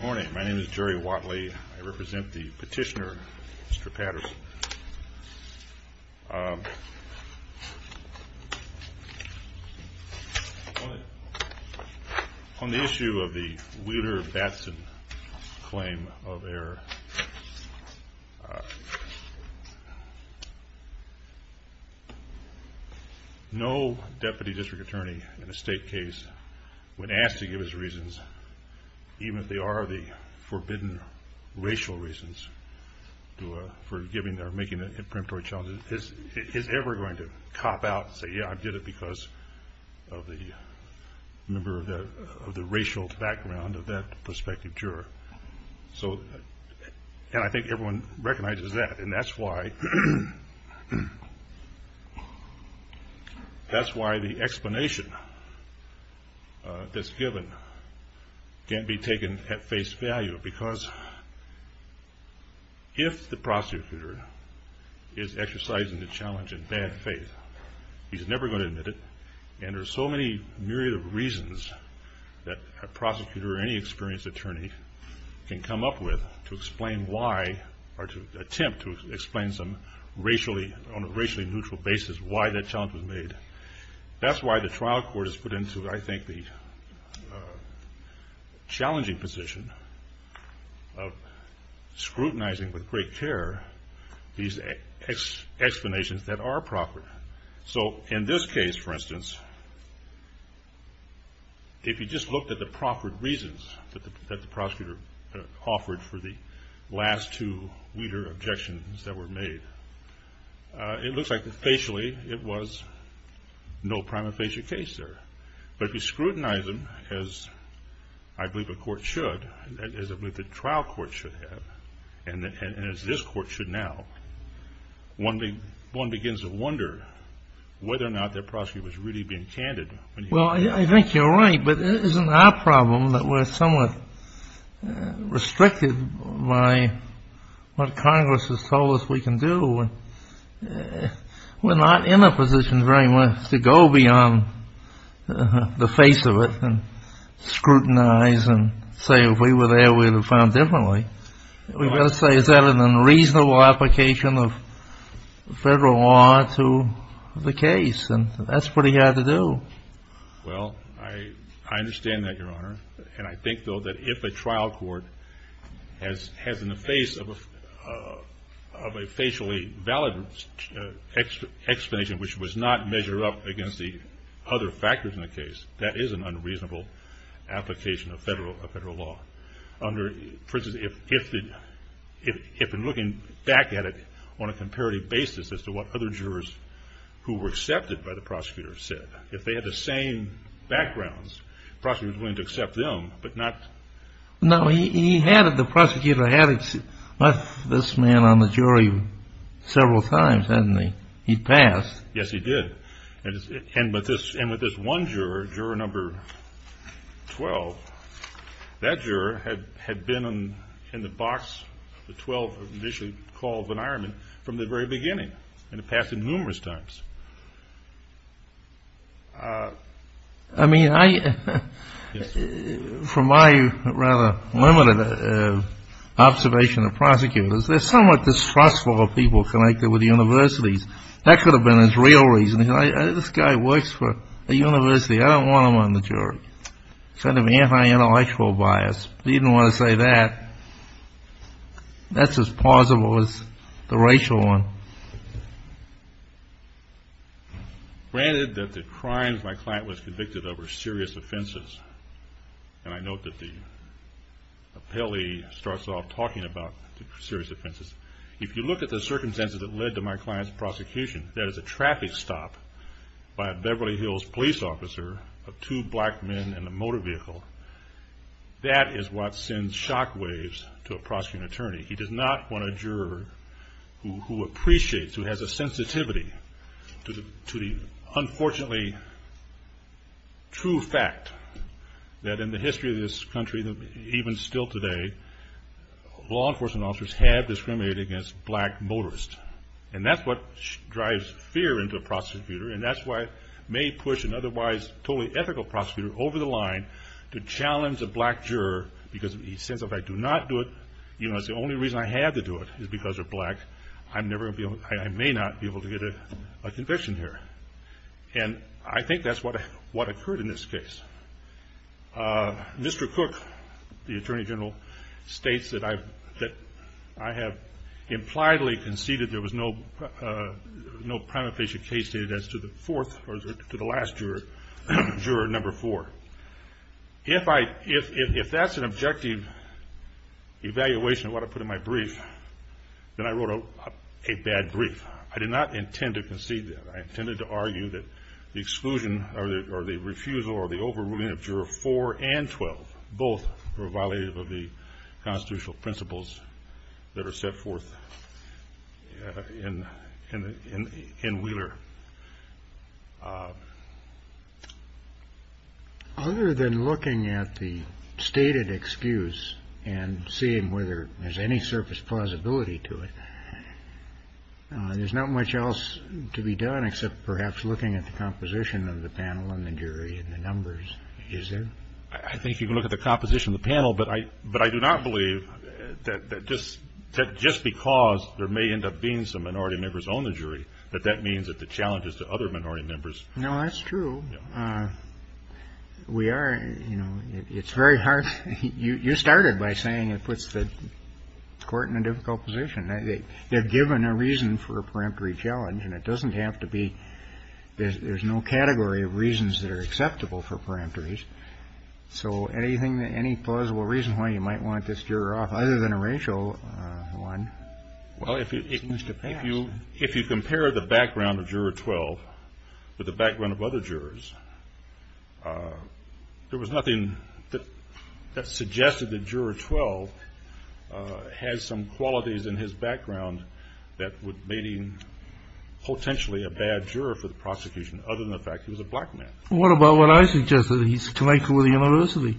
morning. My name is Jerry Watley. I represent the petitioner, Mr. Patterson. Um, on the issue of the Wheeler-Batson claim of error, no deputy district attorney in a state case when asked to give his reasons, even if they are the forbidden racial reasons for giving or making a preemptory challenge, is ever going to cop out and say, yeah, I did it because of the member of the racial background of that prospective juror. So, and I think everyone recognizes that. And that's why, that's why the explanation that's given can't be taken at face value because if the prosecutor is exercising the challenge in bad faith, he's never going to admit it. And there's so many myriad of reasons that a prosecutor or any experienced attorney can come up with to explain why or to attempt to explain some racially, on a racially neutral basis, why that challenge was made. That's why the trial court has put into, I think the, challenging position of scrutinizing with great care, these explanations that are proffered. So in this case, for instance, if you just looked at the proffered reasons that the prosecutor offered for the last two Wheeler objections that were made, it looks like the facially, it was no prima facie case there, but if you scrutinize them as I believe a court should, as I believe the trial court should have, and as this court should now, one begins to wonder whether or not that prosecutor was really being candid. Well, I think you're right, but it isn't our problem that we're somewhat restricted by what Congress has told us we can do. We're not in a position very much to go beyond the face of it and scrutinize and say, if we were there, we would have found differently. We've got to say, is that an unreasonable application of federal law to the case? And that's pretty hard to do. Well, I, I understand that your honor. And I think though, that if a trial court has, has in the face of a, of a facially valid explanation, which was not measure up against the other factors in the case, that is an unreasonable application of federal, of federal law under, for instance, if, if, if, if in looking back at it on a comparative basis as to what other jurors who were accepted by the prosecutor said, if they had the same backgrounds, prosecutors willing to accept them, but not. No, he, he had it. The prosecutor had this man on the jury several times, hadn't he? He passed. Yes, he did. And, and with this, and with this one juror, juror number 12, that juror had, had been in the box, the 12 initially called von Ehrman from the very beginning and it passed him numerous times. I mean, I, from my rather limited observation of prosecutors, they're somewhat distrustful of people connected with universities. That could have been his real reason. This guy works for a university. I don't want him on the jury. Kind of anti-intellectual bias. You didn't want to say that. That's as plausible as the racial one. Granted that the crimes my client was convicted of were serious offenses. And I note that the appellee starts off talking about serious offenses. If you look at the circumstances that led to my client's prosecution, that is a traffic stop by a Beverly Hills police officer of two black men in the motor vehicle. That is what sends shock waves to a prosecuting attorney. He does not want a juror who appreciates, who has a sensitivity to the, to the unfortunately true fact that in the history of this country, even still today, law enforcement officers have discriminated against black motorists. And that's what drives fear into a prosecutor. And that's why it may push an otherwise totally ethical prosecutor over the line to challenge a black juror because he says, if I do not do it, you know, it's the only reason I had to do it is because they're black. I'm never going to be able, I may not be able to get a conviction here. And I think that's what, what occurred in this case. Mr. Cook, the attorney general states that I've, that I have impliedly conceded there was no, no prima facie case stated as to the fourth or to the last juror, juror number four. If I, if, if that's an objective evaluation of what I put in my brief, then I wrote a bad brief. I did not intend to concede that. I intended to argue that the exclusion or the, or the refusal or the overruling of juror four and 12, both were violated of the constitutional principles that are set forth in, in, in, in Wheeler. Other than looking at the stated excuse and seeing whether there's any surface plausibility to it. There's not much else to be done except perhaps looking at the composition of the panel and the jury and the numbers. Is there, I think you can look at the composition of the panel, but I, but I do not believe that just, just because there may end up being some minority members on the jury, but that means that the challenges to other minority members. No, that's true. We are, you know, it's very hard. You, you started by saying it puts the court in a difficult position. They've given a reason for a peremptory challenge and it doesn't have to be, there's no category of reasons that are acceptable for peremptories. So anything that any plausible reason why you might want this juror off other than a racial one. Well, if you, if you, if you compare the background of juror 12 with the background of other jurors there was nothing that that suggested that juror 12 has some qualities in his background that would maybe potentially a bad juror for the prosecution. Other than the fact he was a black man. What about what I suggested? He's connected with the university.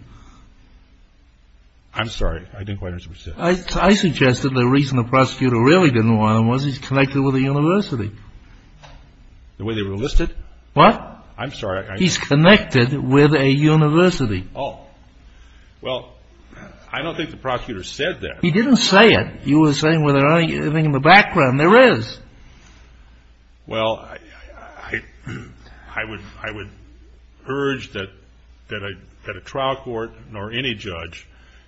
I'm sorry. I didn't quite understand what you said. I suggested the reason the prosecutor really didn't want him was he's connected with the university. The way they were listed. What? I'm sorry. He's connected with a university. Well, I don't think the prosecutor said that. He didn't say it. You were saying whether I think in the background there is. Well, I, I would, I would urge that, that I, that a trial court nor any judge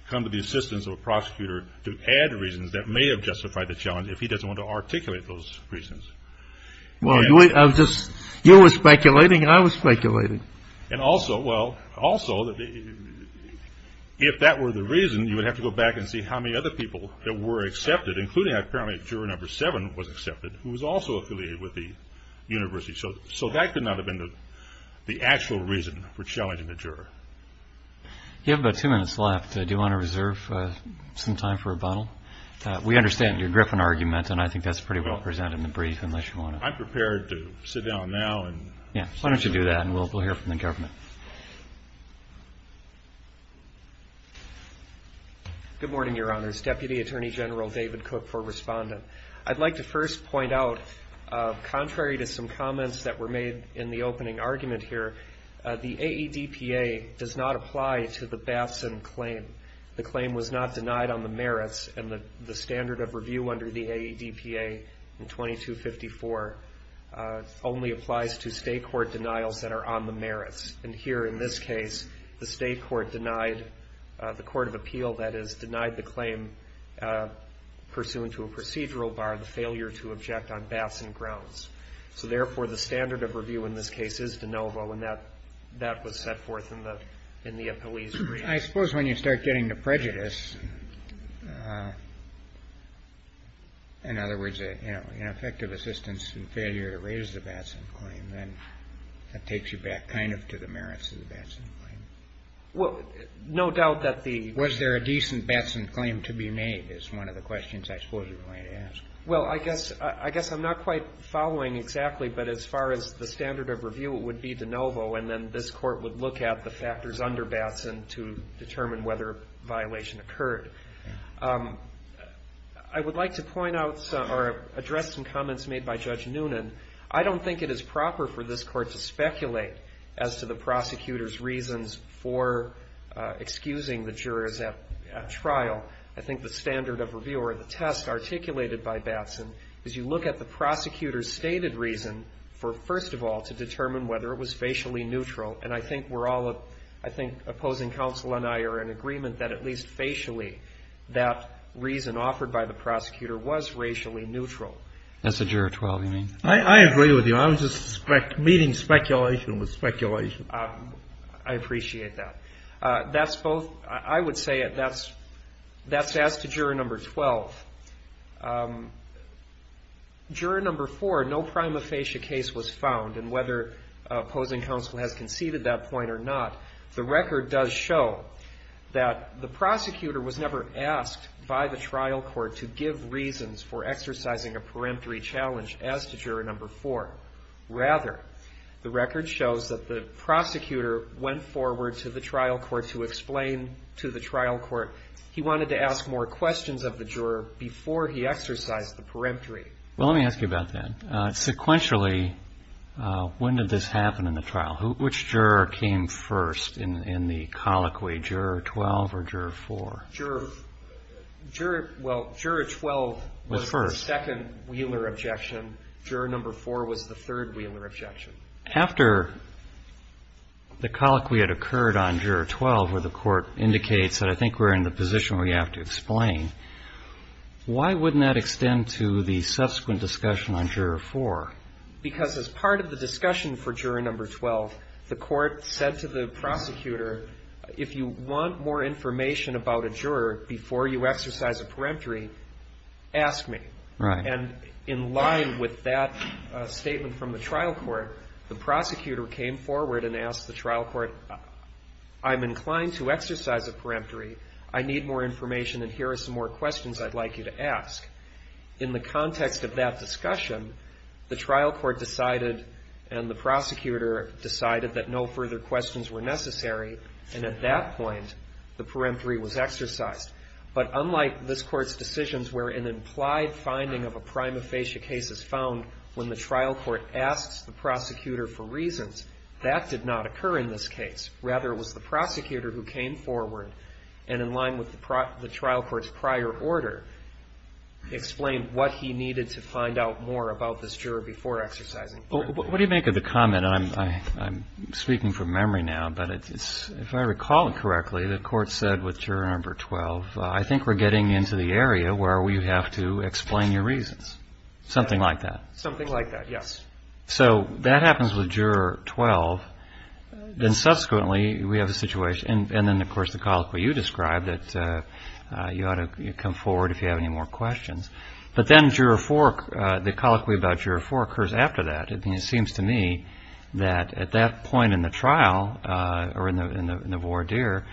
come to the assistance of a prosecutor to add reasons that may have justified the challenge. If he doesn't want to articulate those reasons. Well, I was just, you were speculating. I was speculating. And also, well, also that if that were the reason you would have to go back and see how many other people that were accepted, including apparently juror number seven was accepted, who was also affiliated with the university. So, so that could not have been the actual reason for challenging the juror. You have about two minutes left. Do you want to reserve some time for rebuttal? We understand your Griffin argument and I think that's pretty well presented in brief, unless you want to. I'm prepared to sit down now. And yeah, why don't you do that? And we'll, we'll hear from the government. Good morning, your honors, deputy attorney general, David Cook for respondent. I'd like to first point out, contrary to some comments that were made in the opening argument here, the AEDPA does not apply to the Batson claim. The claim was not denied on the merits and the standard of review under the AEDPA in 2254 only applies to state court denials that are on the merits. And here in this case, the state court denied the court of appeal. That is denied the claim pursuant to a procedural bar, the failure to object on Batson grounds. So therefore the standard of review in this case is de novo. And that, that was set forth in the, in the police. I suppose when you start getting the prejudice, in other words, effective assistance and failure to raise the Batson claim, then that takes you back kind of to the merits of the Batson claim. Well, no doubt that the, was there a decent Batson claim to be made is one of the questions I suppose you're going to ask. Well, I guess, I guess I'm not quite following exactly, but as far as the standard of review, it would be de novo. And then this court would look at the factors under Batson to determine whether violation occurred. I would like to point out some or address some comments made by Judge Noonan. I don't think it is proper for this court to speculate as to the prosecutor's reasons for excusing the jurors at trial. I think the standard of review or the test articulated by Batson is you look at the prosecutor's stated reason for, first of all, to determine whether it was facially neutral. And I think we're all, I think opposing counsel and I are in agreement that at least facially, that reason offered by the prosecutor was racially neutral. That's a juror 12, you mean? I agree with you. I was just meeting speculation with speculation. I appreciate that. That's both, I would say that's, that's as to juror number 12. Juror number 4, no prima facie case was found and whether opposing counsel has conceded that point or not, the record does show that the prosecutor was never asked by the trial court to give reasons for exercising a peremptory challenge as to juror number 4. Rather, the record shows that the prosecutor went forward to the trial court to explain to the trial court. He wanted to ask more questions of the juror before he exercised the peremptory. Well, let me ask you about that. Sequentially, when did this happen in the trial? Which juror came first in the colloquy, juror 12 or juror 4? Juror, well, juror 12 was the second Wheeler objection. Juror number 4 was the third Wheeler objection. After the colloquy had occurred on juror 12, where the court indicates that I think we're in the position where we have to explain, why wouldn't that extend to the subsequent discussion on juror 4? Because as part of the discussion for juror number 12, the court said to the prosecutor, if you want more information about a juror before you exercise a peremptory, ask me. And in line with that statement from the trial court, the prosecutor came forward and asked the trial court, I'm inclined to exercise a peremptory. I need more information and here are some more questions I'd like you to ask. In the context of that discussion, the trial court decided and the prosecutor decided that no further questions were necessary. And at that point, the peremptory was exercised. But unlike this court's decisions, where an implied finding of a prima facie case is found when the trial court asks the prosecutor for reasons that did not occur in this case, rather it was the prosecutor who came forward and in line with the trial court's prior order, explained what he needed to find out more about this juror before exercising peremptory. What do you make of the comment? And I'm speaking from memory now, but if I recall it correctly, the court said with juror number 12, I think we're getting into the area where we have to explain your reasons. Something like that. Something like that. Yes. So that happens with juror 12. Then subsequently we have a situation and then of course the colloquy you described that you ought to come forward if you have any more questions. But then juror four, the colloquy about juror four occurs after that. It seems to me that at that point in the trial or in the voir dire,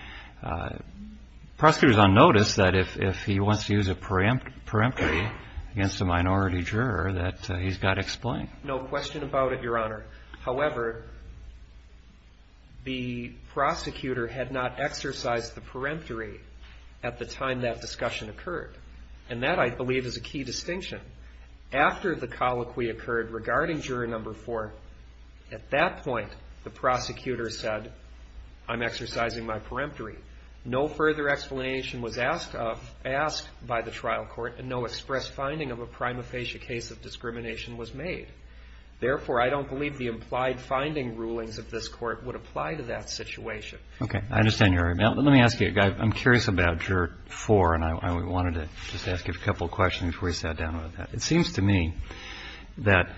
prosecutor's on notice that if he wants to use a peremptory against a minority juror, that he's got to explain. No question about it, Your Honor. However, the prosecutor had not exercised the peremptory at the time that discussion occurred. And that I believe is a key distinction. After the colloquy occurred regarding juror number four, at that point, the prosecutor said, I'm exercising my peremptory. No further explanation was asked of, asked by the trial court and no express finding of a prima facie case of peremptory. Therefore, I don't believe the implied finding rulings of this court would apply to that situation. Okay. I understand your argument. Let me ask you a guy, I'm curious about juror four and I wanted to just ask you a couple of questions before we sat down with that. It seems to me that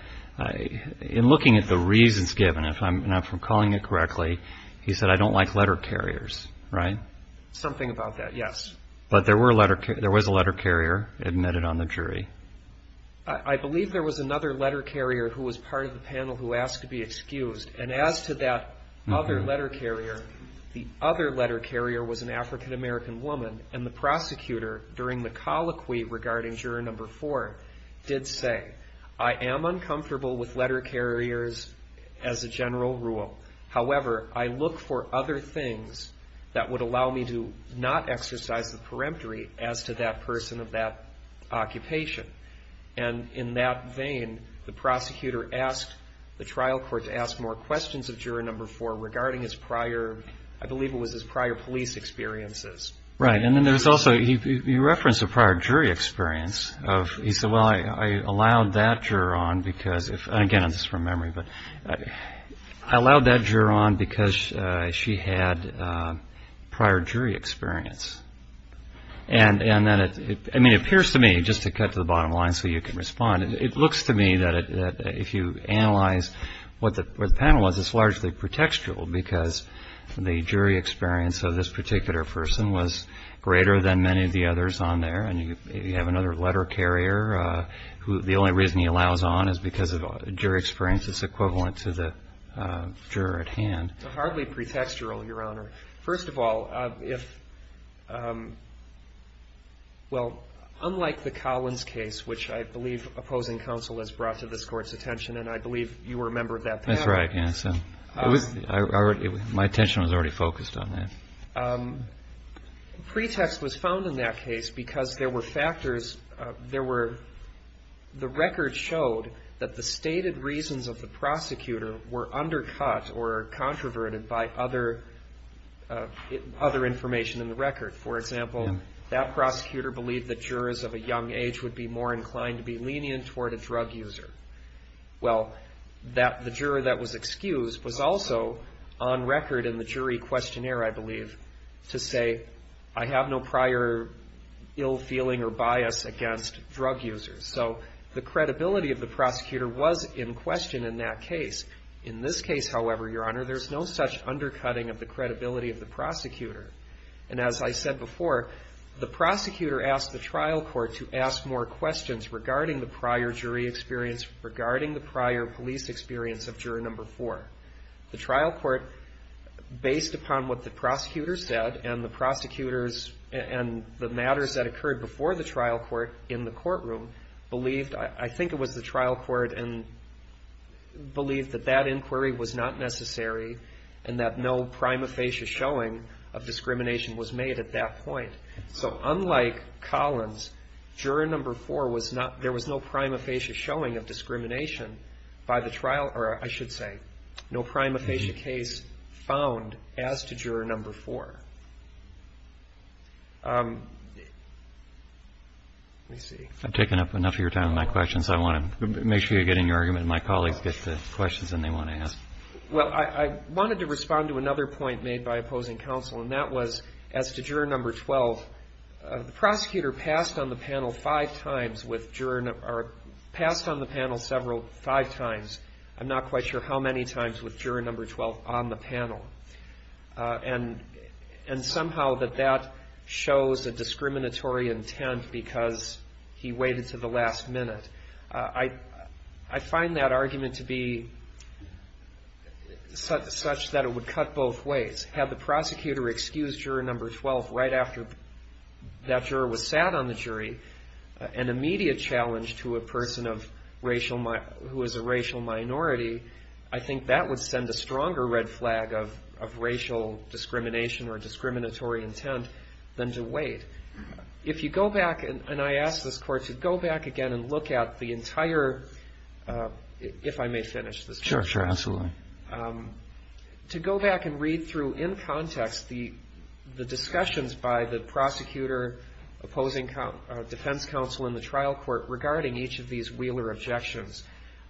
in looking at the reasons given, if I'm not calling it correctly, he said, I don't like letter carriers, right? Something about that. Yes. But there were letter carriers, there was a letter carrier admitted on the jury. I believe there was another letter carrier who was part of the panel who asked to be excused. And as to that other letter carrier, the other letter carrier was an African American woman and the prosecutor during the colloquy regarding juror number four did say, I am uncomfortable with letter carriers as a general rule. However, I look for other things that would allow me to not exercise the occupation. And in that vein, the prosecutor asked the trial court to ask more questions of juror number four regarding his prior, I believe it was his prior police experiences. Right. And then there's also, he referenced a prior jury experience of, he said, well, I allowed that juror on because if, again, this is from memory, but I allowed that juror on because she had prior jury experience. And, and then it, I mean, it appears to me just to cut to the bottom line, so you can respond. It looks to me that if you analyze what the panel was, it's largely pretextual because the jury experience of this particular person was greater than many of the others on there. And you have another letter carrier who the only reason he allows on is because of jury experience is equivalent to the juror at hand. Hardly pretextual, Your Honor. First of all, if, well, unlike the Collins case, which I believe opposing counsel has brought to this court's attention, and I believe you were a member of that panel. That's right, Gannon. My attention was already focused on that. Pretext was found in that case because there were factors, there were, the record showed that the stated reasons of the prosecutor were undercut or controverted by other, other information in the record. For example, that prosecutor believed that jurors of a young age would be more inclined to be lenient toward a drug user. Well, that the juror that was excused was also on record in the jury questionnaire, I believe, to say, I have no prior ill feeling or bias against drug users. So the credibility of the prosecutor was in question in that case. In this case, however, Your Honor, there's no such undercutting of the credibility of the prosecutor. And as I said before, the prosecutor asked the trial court to ask more questions regarding the prior jury experience regarding the prior police experience of juror number four. The trial court, based upon what the prosecutor said and the prosecutors and the matters that occurred before the trial court in the courtroom believed, I think it was the trial court and believed that that inquiry was not necessary and that no prima facie showing of discrimination was made at that point. So unlike Collins, juror number four was not, there was no prima facie showing of discrimination by the trial, or I should say no prima facie case found as to juror number four. Let me see. I've taken up enough of your time with my questions. I want to make sure you get in your argument and my colleagues get the questions that they want to ask. Well, I wanted to respond to another point made by opposing counsel and that was as to juror number 12, the prosecutor passed on the panel five times with juror number, or passed on the panel several, I'm not quite sure how many times with juror number 12 on the panel. And somehow that that shows a discriminatory intent because he waited to the last minute. I find that argument to be such that it would cut both ways. Had the prosecutor excused juror number 12 right after that juror was sat on the jury, an immediate challenge to a person who is a racial minority, I think that would send a stronger red flag of racial discrimination or discriminatory intent than to wait. If you go back and I asked this court to go back again and look at the entire, if I may finish this. Sure. Sure. Absolutely. To go back and read through in context, the discussions by the prosecutor opposing defense counsel in the trial court regarding each of these Wheeler objections.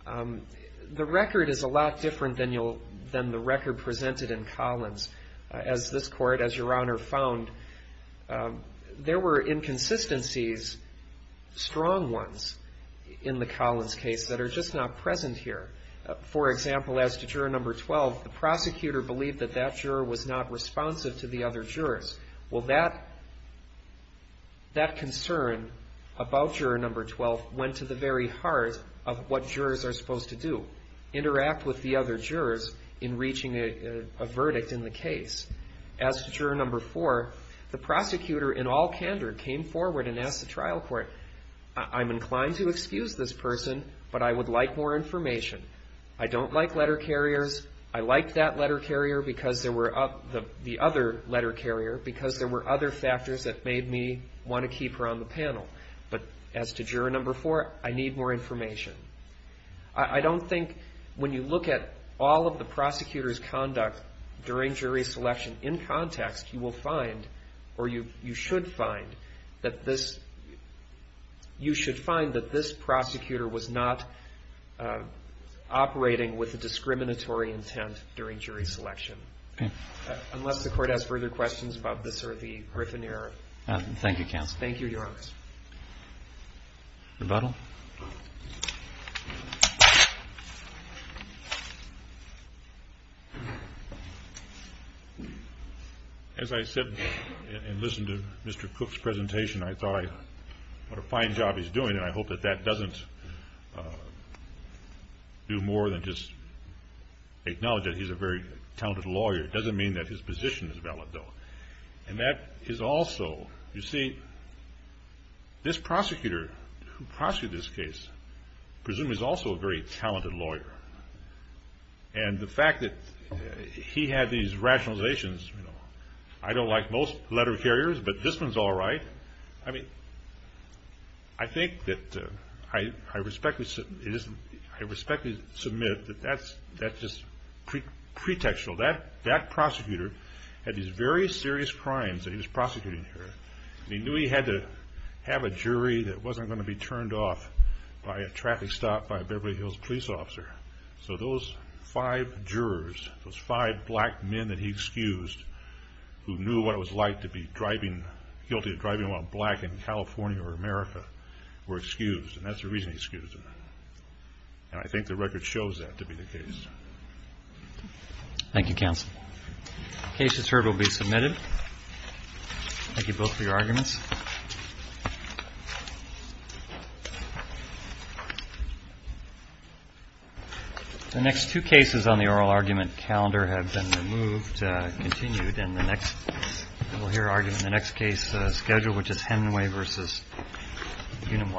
The record is a lot different than you'll than the record presented in Collins. As this court, as your honor found there were inconsistencies, strong ones in the Collins case that are just not present here. For example, as to juror number 12, the prosecutor believed that that juror was not responsive to the other jurors. Well, that that concern about juror number 12 went to the very heart of what jurors are supposed to do. Interact with the other jurors in reaching a verdict in the case. As to juror number four, the prosecutor in all candor came forward and asked the trial court, I'm inclined to excuse this person, but I would like more information. I don't like letter carriers. I liked that letter carrier because there were up the other letter carrier because there were other factors that made me want to keep her on the panel. But as to juror number four, I need more information. I don't think when you look at all of the prosecutor's conduct during jury selection in context, you will find, or you, you should find that this, you should find that this prosecutor was not operating with a discriminatory intent during jury selection. Unless the court has further questions about this or the Griffin error. Thank you, counsel. Thank you, your honors. Rebuttal. As I said and listened to Mr. Cook's presentation, I thought what a fine job he's doing. And I hope that that doesn't do more than just acknowledge that he's a very talented lawyer. It doesn't mean that his position is valid though. And that is also, you see this prosecutor who prosecuted this case, presumably is also a very talented lawyer. And the fact that he had these rationalizations, you know, I don't like most letter carriers, but this one's all right. I mean, I think that I respectfully submit that that's, that's just pre pretextual that that prosecutor had these very serious crimes that he was prosecuting here. He knew he had to have a jury that wasn't going to be turned off by a traffic stop by a Beverly Hills police officer. So those five jurors, those five black men that he excused who knew what it was like to be driving, guilty of driving while black in California or America were excused. And that's the reason he excused them. And I think the record shows that to be the case. Thank you, counsel. Case has heard will be submitted. Thank you both for your arguments. The next two cases on the oral argument calendar have been removed, continued. And the next we'll hear argument in the next case schedule, which is Hemingway versus Unum Life.